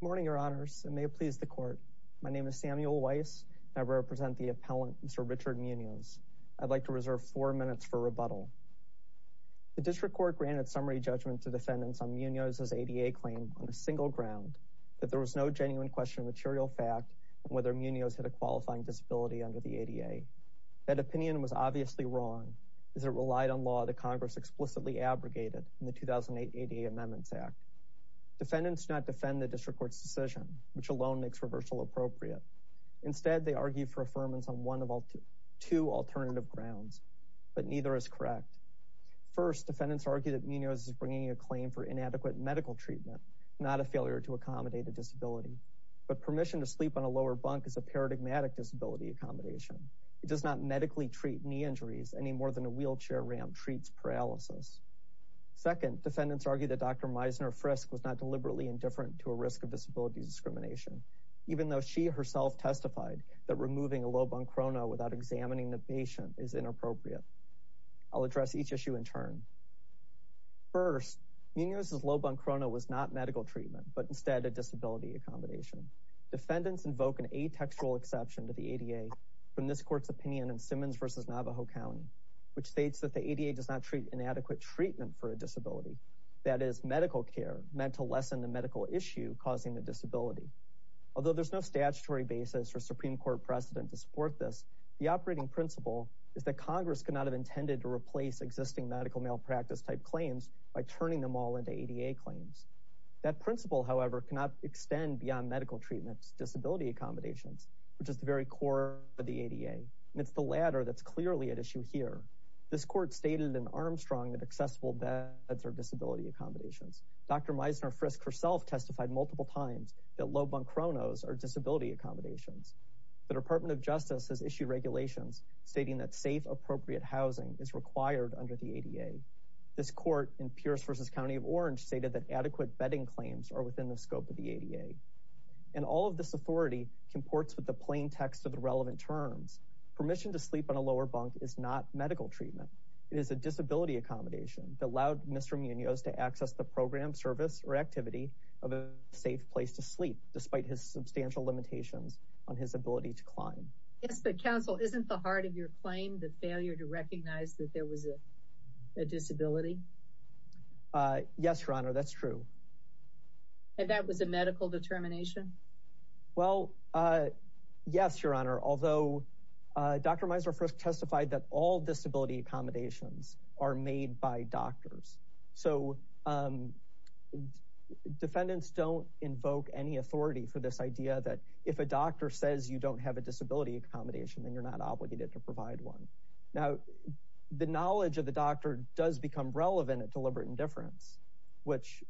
Good morning your honors and may it please the court. My name is Samuel Weiss and I represent the appellant Mr. Richard Munoz. I'd like to reserve four minutes for rebuttal. The district court granted summary judgment to defendants on Munoz's ADA claim on a single ground that there was no genuine question of material fact whether Munoz had a qualifying disability under the ADA. That opinion was obviously wrong as it relied on law that Congress explicitly abrogated in 2008 ADA Amendments Act. Defendants not defend the district court's decision which alone makes reversal appropriate. Instead they argue for affirmance on one of all two alternative grounds but neither is correct. First defendants argue that Munoz is bringing a claim for inadequate medical treatment not a failure to accommodate a disability but permission to sleep on a lower bunk is a paradigmatic disability accommodation. It does not medically treat knee injuries any more than a wheelchair ramp treats paralysis. Second defendants argue that Dr. Meisner Frisk was not deliberately indifferent to a risk of disability discrimination even though she herself testified that removing a low bunk chrono without examining the patient is inappropriate. I'll address each issue in turn. First Munoz's low bunk chrono was not medical treatment but instead a disability accommodation. Defendants invoke an atextual exception to the ADA from this court's opinion in Simmons versus Navajo County which states that the ADA does not treat inadequate treatment for a disability that is medical care meant to lessen the medical issue causing the disability. Although there's no statutory basis or Supreme Court precedent to support this the operating principle is that Congress could not have intended to replace existing medical malpractice type claims by turning them all into ADA claims. That principle however cannot extend beyond medical treatments disability accommodations which is the very core of the ADA and it's the latter that's clearly at issue here. This court stated in Armstrong that accessible beds are disability accommodations. Dr. Meisner Frisk herself testified multiple times that low bunk chronos are disability accommodations. The Department of Justice has issued regulations stating that safe appropriate housing is required under the ADA. This court in Pierce versus County of Orange stated that adequate bedding comports with the plain text of the relevant terms. Permission to sleep on a lower bunk is not medical treatment. It is a disability accommodation that allowed Mr. Munoz to access the program service or activity of a safe place to sleep despite his substantial limitations on his ability to climb. Yes but counsel isn't the heart of your claim the failure to recognize that there was a disability? Yes your honor that's true. And that was a medical determination? Well yes your honor although Dr. Meisner Frisk testified that all disability accommodations are made by doctors. So defendants don't invoke any authority for this idea that if a doctor says you don't have a disability accommodation then you're not obligated to provide one. Now the knowledge of the doctor does become relevant at deliberate indifference which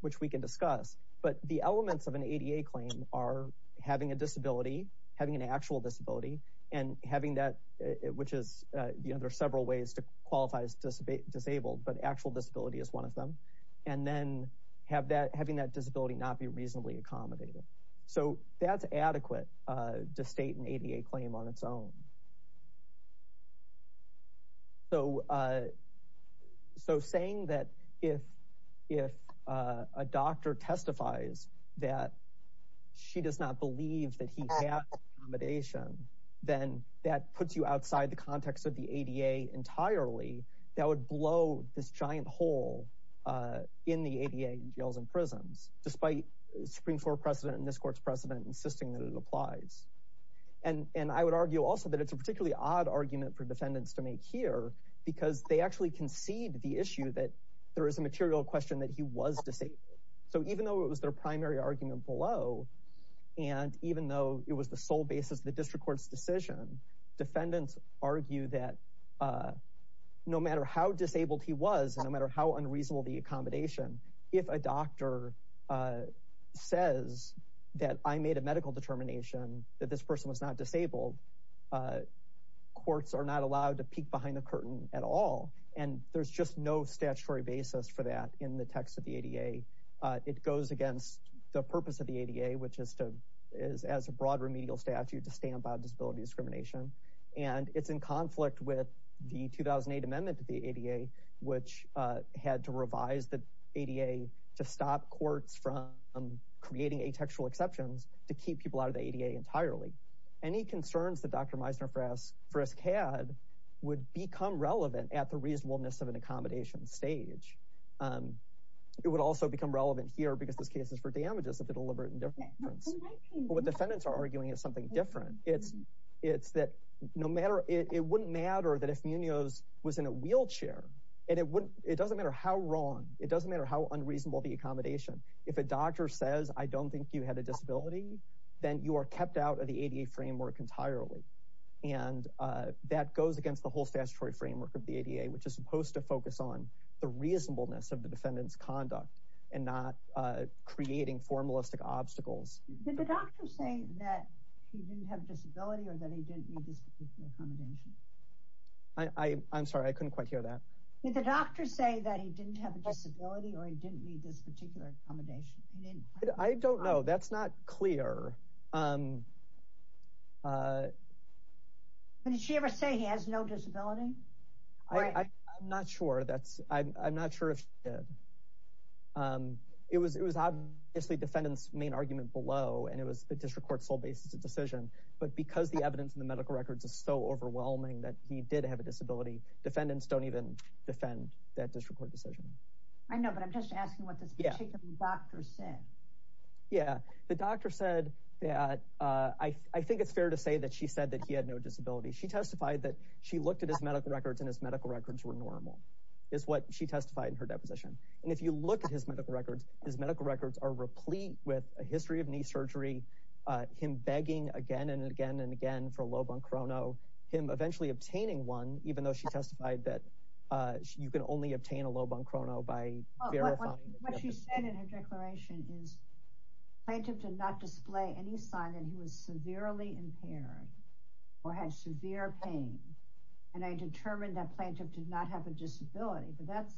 which we can discuss but the elements of an ADA claim are having a disability having an actual disability and having that which is you know there are several ways to qualify as disabled but actual disability is one of them and then have that having that disability not be reasonably accommodated. So that's adequate to state an ADA claim on its own. So so saying that if if a doctor testifies that she does not believe that he has accommodation then that puts you outside the context of the ADA entirely that would blow this giant hole in the ADA in jails and prisons despite Supreme Court precedent and this court's precedent insisting that it applies. And and I would argue also that it's a particularly odd argument for that there is a material question that he was disabled. So even though it was their primary argument below and even though it was the sole basis of the district courts decision defendants argue that no matter how disabled he was no matter how unreasonable the accommodation if a doctor says that I made a medical determination that this person was not disabled courts are not statutory basis for that in the text of the ADA it goes against the purpose of the ADA which is to is as a broad remedial statute to stand by disability discrimination and it's in conflict with the 2008 amendment to the ADA which had to revise the ADA to stop courts from creating a textual exceptions to keep people out of the ADA entirely. Any concerns that Dr. Meisner Frisk had would become relevant at the reasonableness of an accommodation stage. It would also become relevant here because this case is for damages of the deliberate indifference. What defendants are arguing is something different it's it's that no matter it wouldn't matter that if Munoz was in a wheelchair and it wouldn't it doesn't matter how wrong it doesn't matter how unreasonable the accommodation if a doctor says I don't think you had a disability then you are goes against the whole statutory framework of the ADA which is supposed to focus on the reasonableness of the defendants conduct and not creating formalistic obstacles. I'm sorry I couldn't quite hear that. I don't know that's not clear. Did she ever say he has no disability? I'm not sure that's I'm not sure if it was it was obviously defendants main argument below and it was a district court sole basis of decision but because the evidence in the medical records is so overwhelming that he did have a disability defendants don't even defend that district court decision. I know but I'm just asking what the doctor said. Yeah the doctor said that I think it's fair to say that she said that he had no disability she testified that she looked at his medical records and his medical records were normal is what she testified in her deposition and if you look at his medical records his medical records are replete with a history of knee surgery him begging again and again and again for a low bunk chrono him eventually obtaining one even though she testified that you can only obtain a low bunk chrono by declaration is plaintiff did not display any sign that he was severely impaired or had severe pain and I determined that plaintiff did not have a disability but that's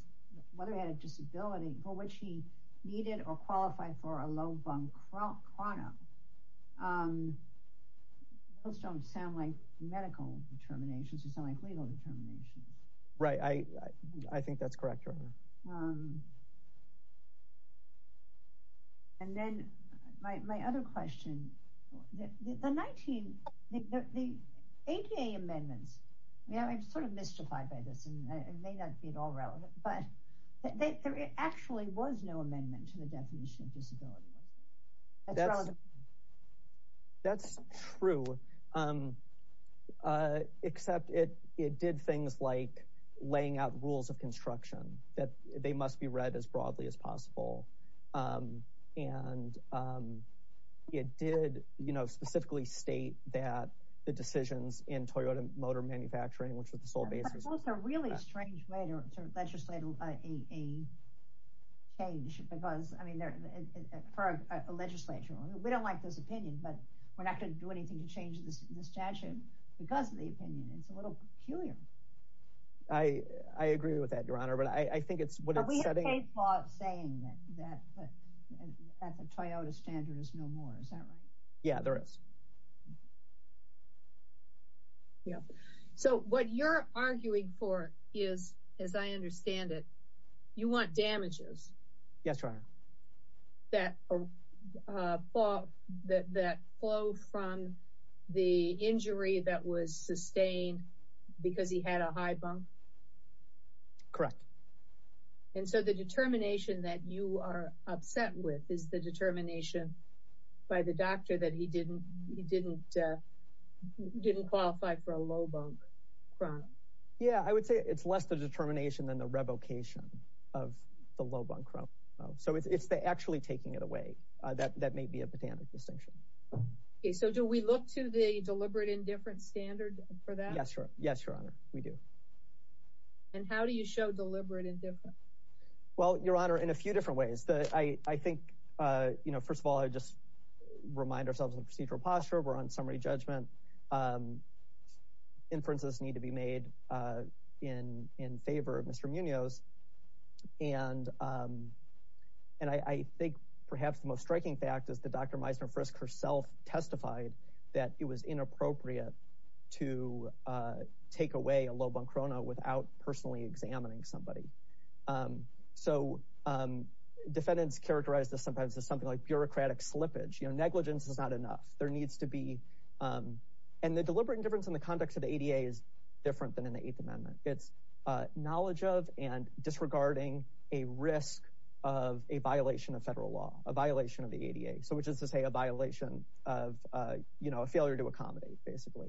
whether he had a disability for which he needed or qualified for a low right I I think that's correct and then my other question the 19 the ADA amendments yeah I'm sort of mystified by this and may not be at all relevant but there actually was no things like laying out rules of construction that they must be read as broadly as possible and it did you know specifically state that the decisions in Toyota Motor Manufacturing which was the sole basis a really strange way to legislate a change because I mean there for a legislature we don't like this opinion but we're not going to do anything to change this statute because I I agree with that your honor but I think it's what it's saying that at the Toyota standard is no more is that right yeah there is yeah so what you're arguing for is as I understand it you want damages yes right that thought that flow from the injury that was sustained because he had a high bump correct and so the determination that you are upset with is the determination by the doctor that he didn't he didn't didn't qualify for a low bump chronic yeah I would say it's less the determination than the revocation of the low bunk row so it's the actually taking it away that that may be a botanic distinction so do we look to the deliberate indifference standard for that sure yes your honor we do and how do you show deliberate indifference well your honor in a few different ways that I I think you know first of all I just remind ourselves in procedural posture we're on summary judgment inferences need to be made in favor of mr. Munoz and and I think perhaps the most striking fact is the dr. Meisner frisk herself testified that it was inappropriate to take away a low bunk rona without personally examining somebody so defendants characterized as sometimes as something like bureaucratic slippage you know negligence is not enough there needs to be and the deliberate indifference in the context of the ADA is different than in the Eighth Amendment it's knowledge of and disregarding a risk of a violation of federal law a violation of the ADA so which is to say a violation of you know a failure to accommodate basically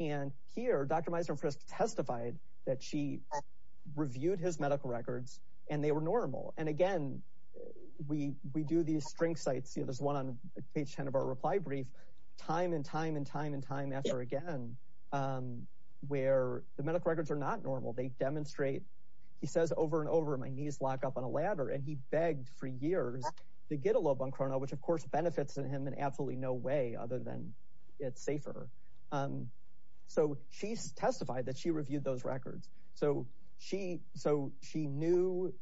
and here dr. Meisner frisk testified that she reviewed his medical records and they were normal and again we we do these string sites you know there's one page 10 of our reply brief time and time and time and time after again where the medical records are not normal they demonstrate he says over and over my knees lock up on a ladder and he begged for years to get a low bunk rona which of course benefits in him in absolutely no way other than it's safer so she's testified that she reviewed those records so she so she knew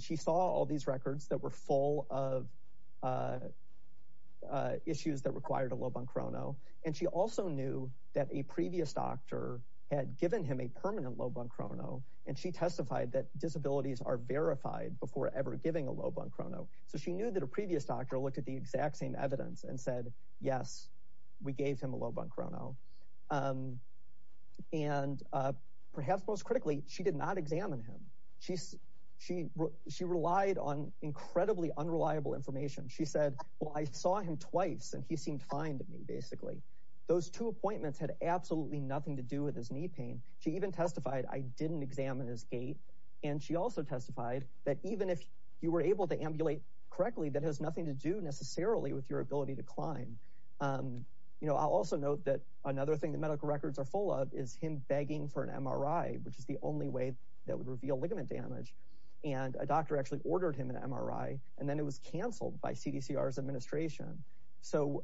she saw all records that were full of issues that required a low bunk rona and she also knew that a previous doctor had given him a permanent low bunk rona and she testified that disabilities are verified before ever giving a low bunk rona so she knew that a previous doctor looked at the exact same evidence and said yes we gave him a low bunk rona and perhaps most critically she did not examine him she relied on incredibly unreliable information she said well I saw him twice and he seemed fine to me basically those two appointments had absolutely nothing to do with his knee pain she even testified I didn't examine his gait and she also testified that even if you were able to ambulate correctly that has nothing to do necessarily with your ability to climb you know I'll also note that another thing the medical records are full of is him begging for an MRI which is the only way that would reveal ligament damage and a doctor actually ordered him an MRI and then it was canceled by CDC ours administration so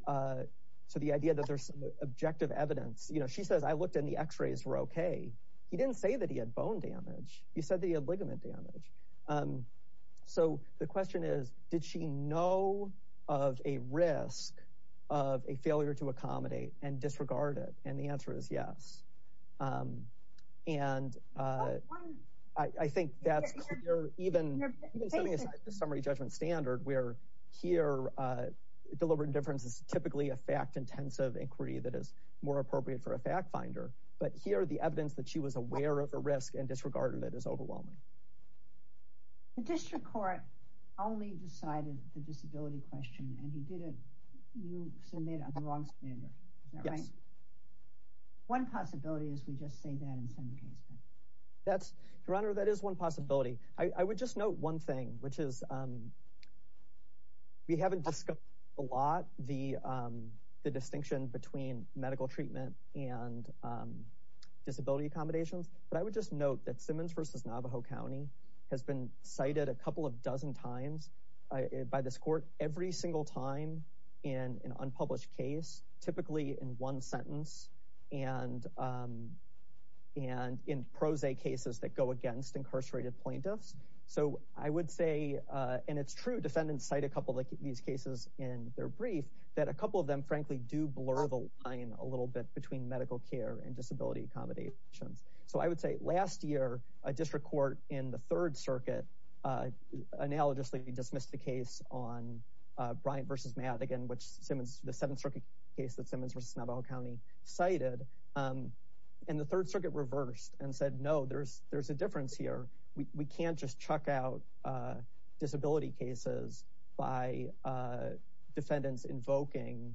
so the idea that there's objective evidence you know she says I looked in the x-rays were okay he didn't say that he had bone damage he said they had ligament damage so the question is did she know of a risk of a failure to I think that's even summary judgment standard where here deliberate indifference is typically a fact-intensive inquiry that is more appropriate for a fact-finder but here the evidence that she was aware of a risk and disregarded it is overwhelming the district court only decided the that's your honor that is one possibility I would just note one thing which is we haven't discussed a lot the the distinction between medical treatment and disability accommodations but I would just note that Simmons versus Navajo County has been cited a couple of dozen times by this court every single time in an unpublished case typically in one sentence and and in prose cases that go against incarcerated plaintiffs so I would say and it's true defendants cite a couple of these cases in their brief that a couple of them frankly do blur the line a little bit between medical care and disability accommodations so I would say last year a district court in the Third Circuit analogously dismissed the case on Bryant versus Madigan which Simmons the Seventh Circuit case that Simmons versus Navajo County cited and the no there's there's a difference here we can't just chuck out disability cases by defendants invoking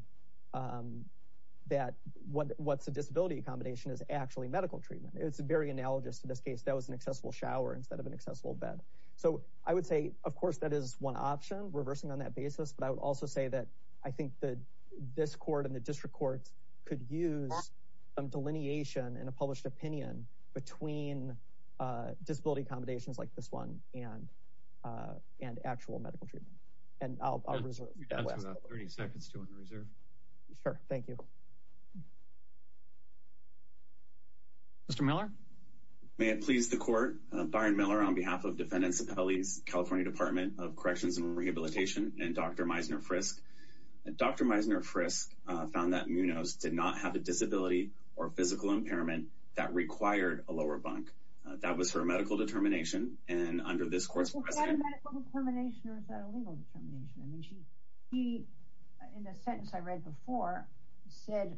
that what what's a disability accommodation is actually medical treatment it's a very analogous to this case that was an accessible shower instead of an accessible bed so I would say of course that is one option reversing on that basis but I would also say that I think that this court and the disability accommodations like this one and and actual medical treatment and I'll reserve 30 seconds to reserve sure thank you mr. Miller may it please the court Byron Miller on behalf of defendants of Ellie's California Department of Corrections and Rehabilitation and dr. Meisner frisk dr. Meisner frisk found that munos did not have a disability or that was her medical determination and under this course in the sense I read before said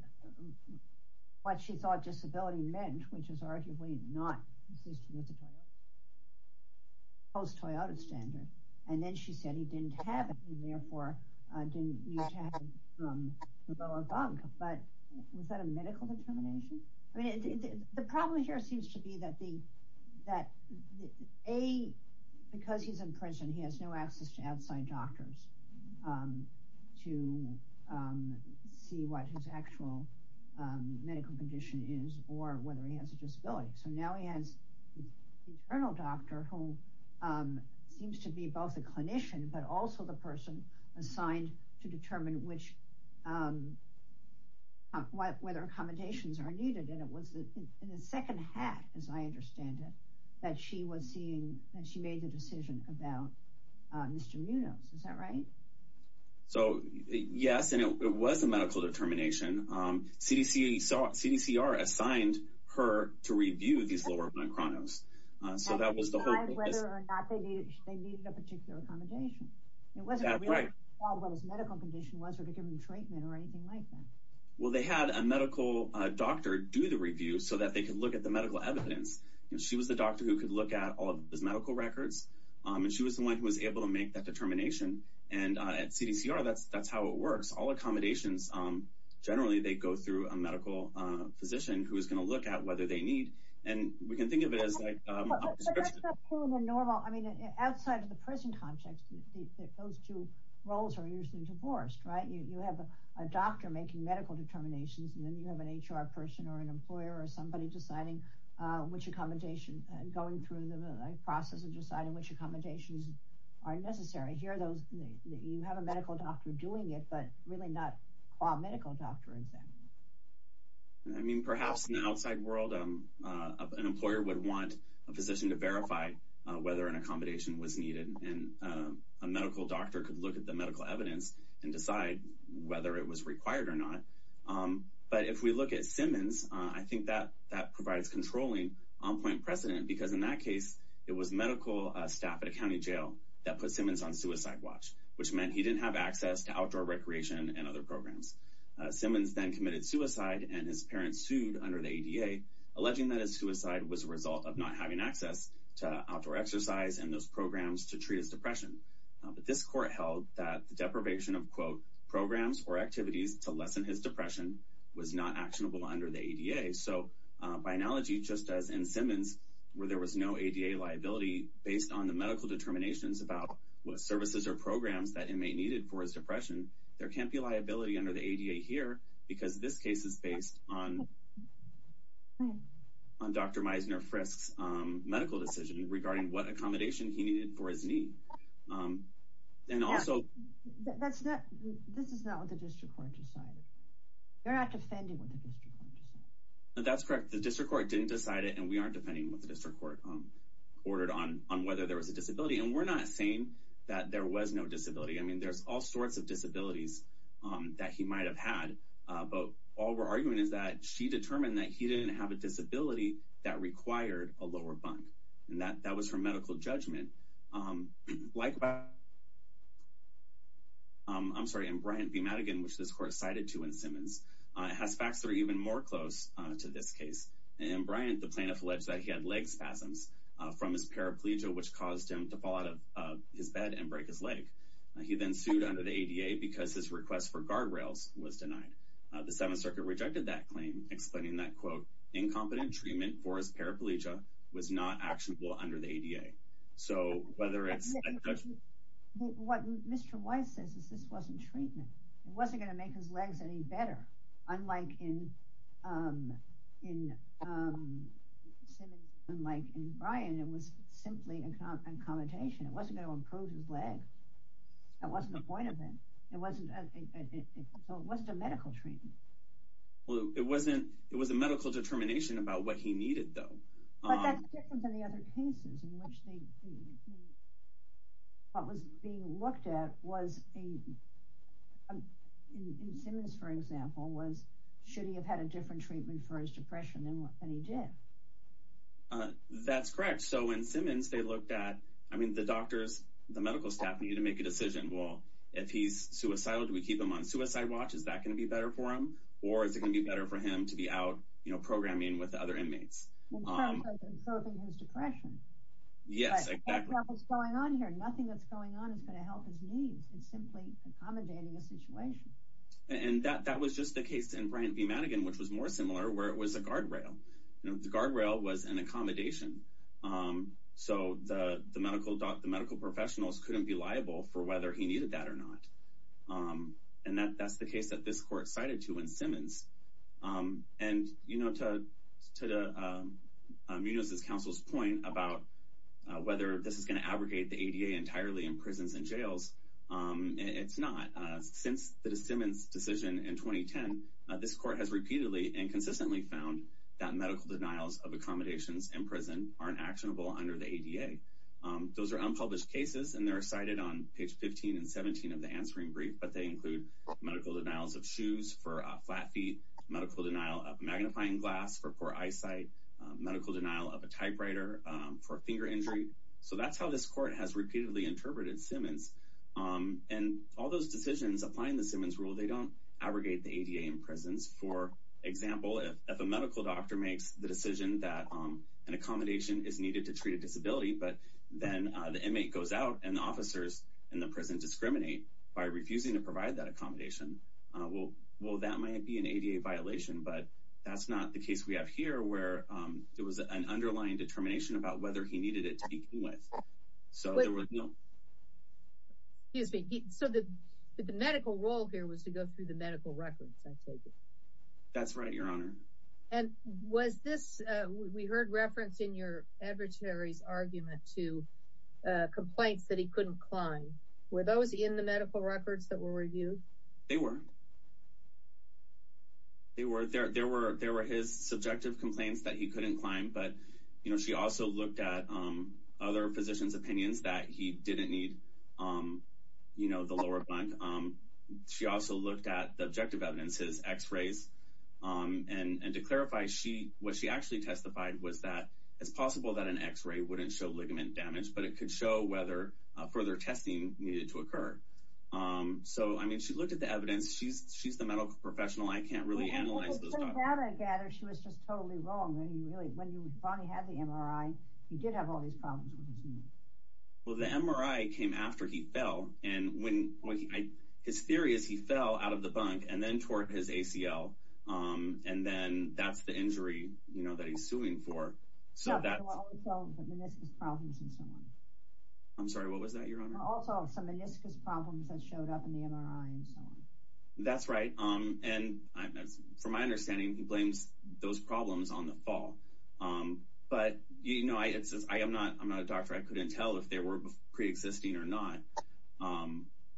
what she thought disability meant which is arguably not post Toyota standard and then she said he didn't have it and therefore didn't but was that a medical determination I mean the problem here seems to be that the that a because he's in prison he has no access to outside doctors to see what his actual medical condition is or whether he has a disability so now he has internal doctor who seems to be both a clinician but also the person assigned to determine which what whether accommodations are needed and it was the second half as I understand it that she was seeing that she made the decision about mr. munos is that right so yes and it was a medical determination CDC saw CDC are assigned her to review these lower chronos so that was the well they had a medical doctor do the review so that they can look at the medical evidence and she was the doctor who could look at all of those medical records and she was the one who was able to make that determination and at CDC are that's that's how it works all accommodations generally they go through a medical physician who is going to look at whether they need and we can think of it as outside of the prison context those two roles are usually divorced right you have a doctor making medical determinations and then you have an HR person or an employer or somebody deciding which accommodation and going through the process of deciding which accommodations are necessary here those you have a medical doctor doing it but medical doctor exam I mean perhaps in the outside world an employer would want a physician to verify whether an accommodation was needed and a medical doctor could look at the medical evidence and decide whether it was required or not but if we look at Simmons I think that that provides controlling on-point precedent because in that case it was medical staff at a county jail that put Simmons on suicide watch which meant he didn't have access to outdoor recreation and other programs Simmons then committed suicide and his parents sued under the ADA alleging that his suicide was a result of not having access to outdoor exercise and those programs to treat his depression but this court held that the deprivation of quote programs or activities to lessen his depression was not actionable under the ADA so by analogy just as in Simmons where there was no ADA liability based on the medical determinations about what services or programs that inmate needed for his depression there can't be liability under the ADA here because this case is based on on dr. Meisner frisks medical decision regarding what accommodation he needed for his knee and also that's not this is not what the district court decided you're not defending with the district that's correct the district court didn't decide it and we aren't depending with the district court um ordered on on whether there was a disability and we're not saying that there was no disability I mean there's all sorts of disabilities that he might have had but all we're arguing is that she determined that he didn't have a disability that required a lower bunk and that that was her medical judgment like about I'm sorry and Bryant be Madigan which this court cited to in Simmons it has facts that are even more close to this case and Bryant the plaintiff alleged that he had leg spasms from his paraplegia which caused him to his bed and break his leg he then sued under the ADA because his request for guardrails was denied the Seventh Circuit rejected that claim explaining that quote incompetent treatment for his paraplegia was not actionable under the ADA so whether it's what mr. Weiss says is this wasn't treatment it wasn't gonna make his legs any better unlike in unlike in Brian it was simply a commutation it wasn't going to improve his leg that wasn't the point of it it wasn't so it wasn't a medical treatment well it wasn't it was a medical determination about what he needed though what was being looked at was a for example was should he have had a different treatment for his depression and what he did that's correct so in that I mean the doctors the medical staff need to make a decision well if he's suicidal do we keep him on suicide watch is that going to be better for him or is it gonna be better for him to be out you know programming with other inmates and that that was just the case in Bryant be Madigan which was more similar where it was a guardrail the guardrail was an accommodation so the medical doctor medical professionals couldn't be liable for whether he needed that or not and that that's the case that this court cited to in Simmons and you know to the Muniz's counsel's point about whether this is going to abrogate the ADA entirely in prisons and jails it's not since the Simmons decision in 2010 this court has repeatedly and consistently found that medical denials of accommodations in prison aren't actionable under the ADA those are unpublished cases and they're cited on page 15 and 17 of the answering brief but they include medical denials of shoes for a flat feet medical denial of magnifying glass for poor eyesight medical denial of a typewriter for finger injury so that's how this court has repeatedly interpreted Simmons and all those decisions applying the Simmons rule they don't abrogate the ADA in prisons for example if a medical doctor makes the decision that an accommodation is needed to treat a disability but then the inmate goes out and the officers in the prison discriminate by refusing to provide that accommodation well well that might be an ADA violation but that's not the case we have here where there was an underlying determination about whether he needed it so the medical role here was to go through the medical records that's right your honor and was this we heard reference in your adversaries argument to complaints that he couldn't climb were those in the medical records that were reviewed they were they were there there were there were his subjective complaints that he couldn't climb but you know she also looked at other physicians opinions that he didn't need you know the lower bunk she also looked at the objective evidences x-rays and and to clarify she what she actually testified was that it's possible that an x-ray wouldn't show ligament damage but it could show whether further testing needed to occur so I mean she looked at the evidence she's she's the medical professional I can't really analyze well the MRI came after he fell and when his theory is he fell out of the bunk and then toward his ACL and then that's the injury you know that he's suing for so that's right um and for my understanding he blames those problems on the fall but you know I am not I'm not a doctor I couldn't tell if they were pre-existing or not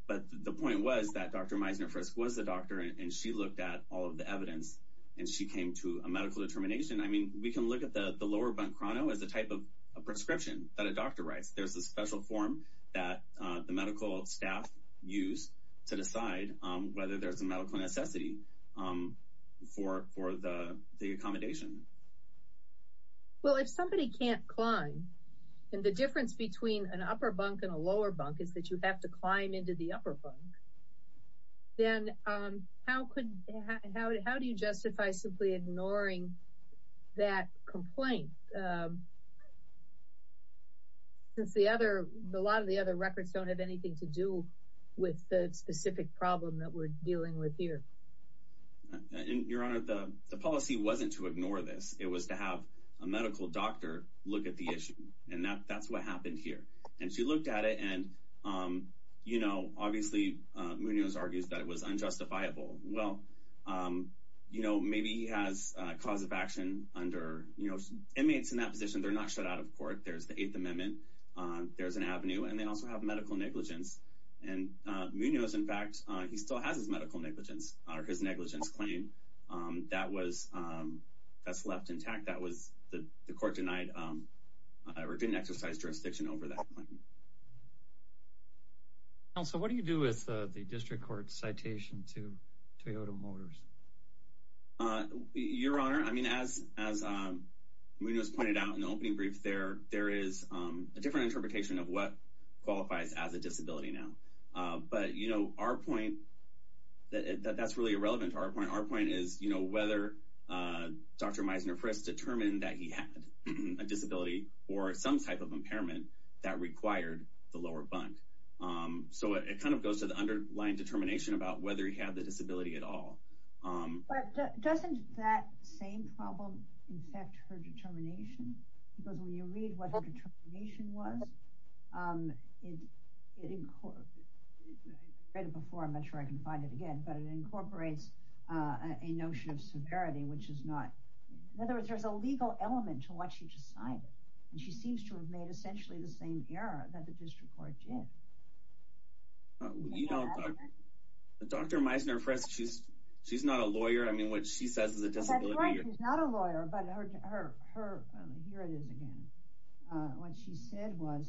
but the point was that dr. Meisner first was the doctor and she looked at all of the evidence and she came to a medical determination I mean we can look at the the lower bunk chrono as a type of a prescription that a doctor writes there's a special form that the medical staff used to decide whether there's a and the difference between an upper bunk and a lower bunk is that you have to climb into the upper bunk then how could how do you justify simply ignoring that complaint since the other a lot of the other records don't have anything to do with the specific problem that we're dealing with here your honor the policy wasn't to ignore this it was to have a medical doctor look at the issue and that that's what happened here and she looked at it and you know obviously Munoz argues that it was unjustifiable well you know maybe he has cause of action under you know inmates in that position they're not shut out of court there's the Eighth Amendment there's an avenue and they also have medical negligence and Munoz in fact he still has his medical negligence or his negligence claim that was that's left intact that was the the court denied or didn't exercise jurisdiction over that also what do you do with the district court citation to Toyota Motors your honor I mean as as Munoz pointed out in the opening brief there there is a different interpretation of what qualifies as a disability now but you know our point that that's really irrelevant to our point our point is you know whether dr. Meisner first determined that he had a disability or some type of impairment that required the lower bunk so it kind of goes to the underlying determination about whether he had the disability at all doesn't that same problem in fact her determination because when you read what the determination was it in court before I'm not sure I can find it again but it incorporates a notion of severity which is not in other words there's a legal element to what she decided and she seems to have made essentially the same error that the district court did you know dr. Meisner first she's she's not a lawyer I mean what she says is a disability not a lawyer but what she said was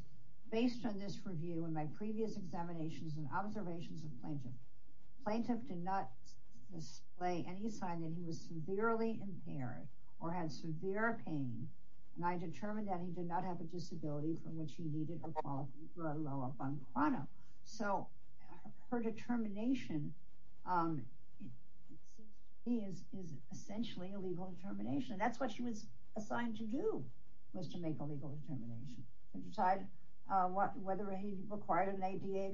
based on this review and my previous examinations and observations of plaintiff plaintiff did not display any sign that he was severely impaired or had severe pain and I determined that he did not have a disability from which he needed a follow-up on chrono so her determination is essentially a legal determination that's what she was assigned to do was to make a legal determination decide what whether he but you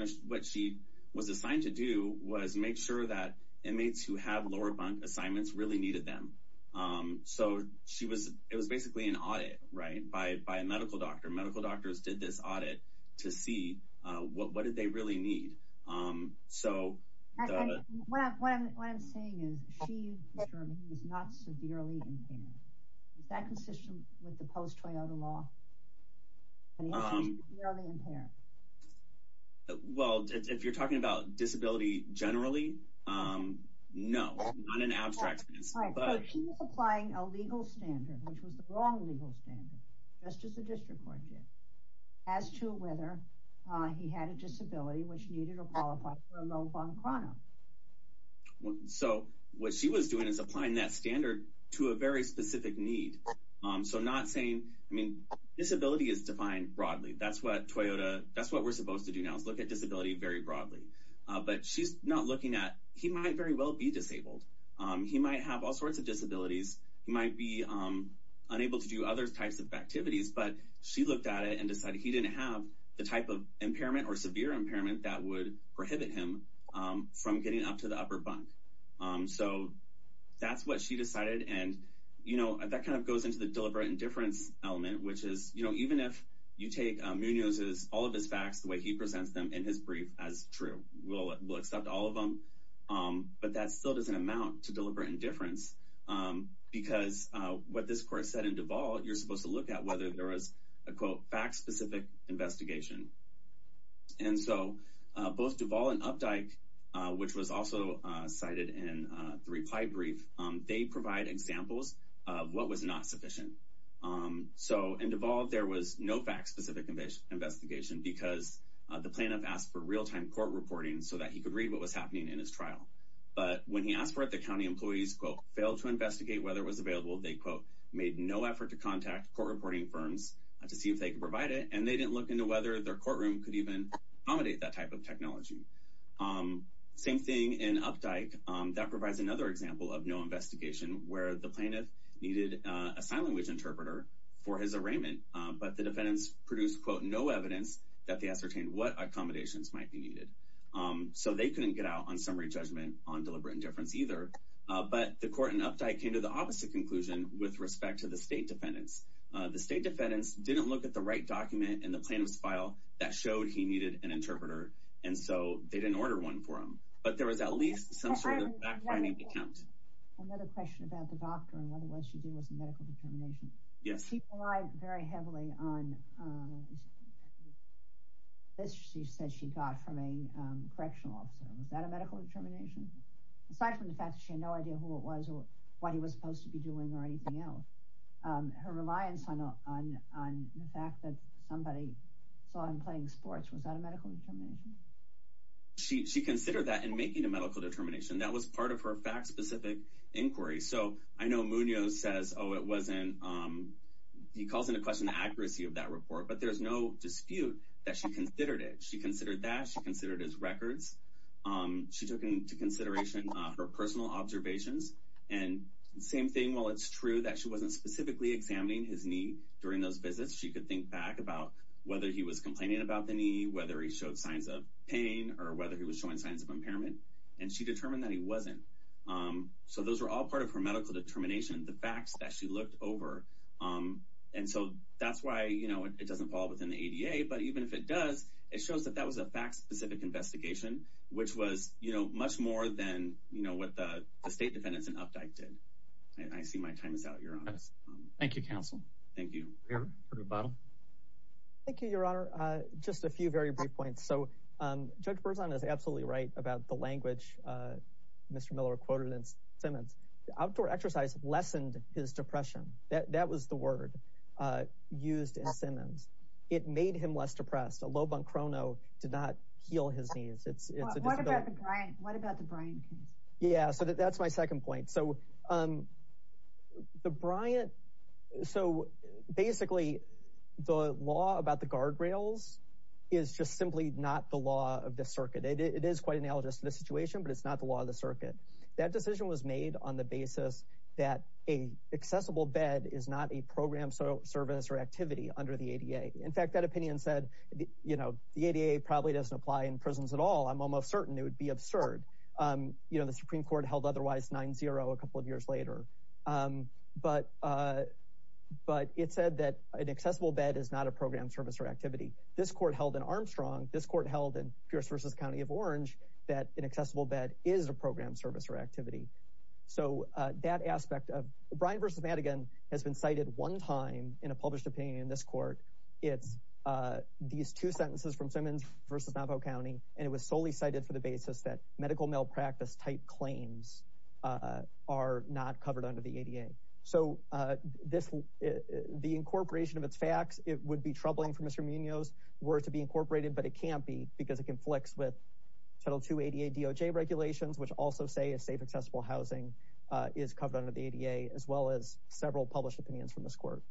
know what she was assigned to do was make sure that inmates who have lower bunk assignments really needed them so she was it was basically an audit right by a medical doctor medical doctors did this audit to see what did they really need so well if you're talking about disability generally as to he had a disability which needed a follow-up on chrono so what she was doing is applying that standard to a very specific need so not saying I mean disability is defined broadly that's what Toyota that's what we're supposed to do now is look at disability very broadly but she's not looking at he might very well be disabled he might have all sorts of disabilities he might be unable to do other types of activities but she looked at it and decided he didn't have the type of impairment or severe impairment that would prohibit him from getting up to the upper bunk so that's what she decided and you know that kind of goes into the deliberate indifference element which is you know even if you take Munoz's all of his facts the way he presents them in his brief as true will accept all of them but that still doesn't amount to deliberate indifference because what this court said in Duval you're supposed to look at whether there was a quote fact specific investigation and so both Duval and Updike which was also cited in the reply brief they provide examples of what was not sufficient so and Duval there was no fact specific investigation because the plaintiff asked for real-time court reporting so that he could read what was happening in his trial but when he asked for it the county employees quote failed to investigate whether was available they quote made no effort to contact court reporting firms to see if they could provide it and they didn't look into whether their courtroom could even accommodate that type of technology same thing in Updike that provides another example of no investigation where the plaintiff needed a sign language interpreter for his arraignment but the defendants produced quote no evidence that they ascertained what accommodations might be needed so they couldn't get out on summary judgment on deliberate indifference either but the court and Updike came to the opposite conclusion with respect to the state defendants the state defendants didn't look at the right document in the plaintiff's file that showed he needed an interpreter and so they didn't order one for him but there was at least some sort of backgrounding account. Another question about the doctor and whether what she did was a medical determination. Yes. She relied very heavily on this she said she got from a correctional officer was that a medical determination aside from the fact she no idea who it was or what he was supposed to be doing or anything else her reliance on the fact that somebody saw him playing sports was that a medical determination? She considered that in making a medical determination that was part of her fact-specific inquiry so I know Munoz says oh it wasn't he calls into question the accuracy of that report but there's no dispute that she considered it she considered that she considered his and same thing while it's true that she wasn't specifically examining his knee during those visits she could think back about whether he was complaining about the knee whether he showed signs of pain or whether he was showing signs of impairment and she determined that he wasn't so those were all part of her medical determination the facts that she looked over and so that's why you know it doesn't fall within the ADA but even if it does it shows that that was a fact-specific investigation which was you know much more than you know what the State Defendants and Updike did. I see my time is out your honor. Thank you counsel. Thank you. Thank you your honor just a few very brief points so Judge Berzon is absolutely right about the language Mr. Miller quoted in Simmons outdoor exercise lessened his depression that that was the word used in Simmons it made him less depressed a low bunk chrono did not heal his knees it's what what about the Bryant case? Yeah so that's my second point so um the Bryant so basically the law about the guardrails is just simply not the law of the circuit it is quite analogous to this situation but it's not the law of the circuit that decision was made on the basis that a accessible bed is not a program so service or activity under the ADA in fact that opinion said you know the ADA probably doesn't apply in prisons at all I'm almost certain it would be absurd you know the Supreme Court held otherwise 9-0 a couple of years later but but it said that an accessible bed is not a program service or activity this court held in Armstrong this court held in Pierce versus County of Orange that an accessible bed is a program service or activity so that aspect of Bryant versus Madigan has been cited one time in a Simmons versus Navajo County and it was solely cited for the basis that medical malpractice type claims are not covered under the ADA so this the incorporation of its facts it would be troubling for Mr. Munoz were to be incorporated but it can't be because it conflicts with Title 2 ADA DOJ regulations which also say a safe accessible housing is covered under the ADA as well as several published opinions from this court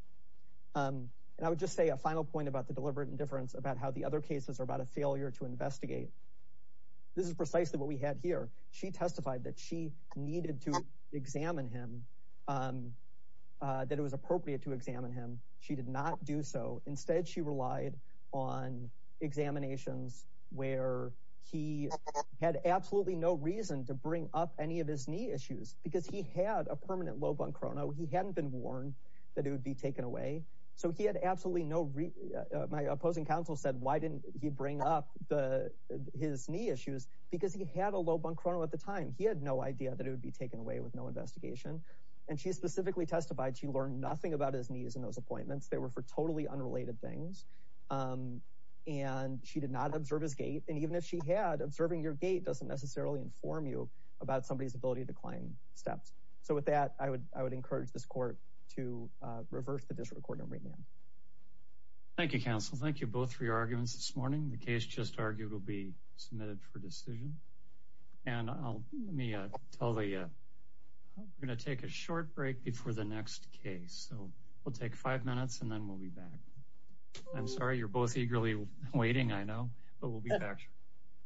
and I would just say a final point about the deliberate indifference about how the other cases are about a failure to investigate this is precisely what we had here she testified that she needed to examine him that it was appropriate to examine him she did not do so instead she relied on examinations where he had absolutely no reason to bring up any of his knee issues because he had a permanent low bunk chrono he hadn't been warned that it would be taken away so he had absolutely no reason my opposing counsel said why didn't he bring up the his knee issues because he had a low bunk chrono at the time he had no idea that it would be taken away with no investigation and she specifically testified she learned nothing about his knees and those appointments they were for totally unrelated things and she did not observe his gait and even if she had observing your gait doesn't necessarily inform you about somebody's ability to climb steps so with that I would I would urge this court to reverse the disrecord and remand. Thank you counsel thank you both for your arguments this morning the case just argued will be submitted for decision and I'll let me tell you we're gonna take a short break before the next case so we'll take five minutes and then we'll be back I'm sorry you're both eagerly waiting I know but we'll be back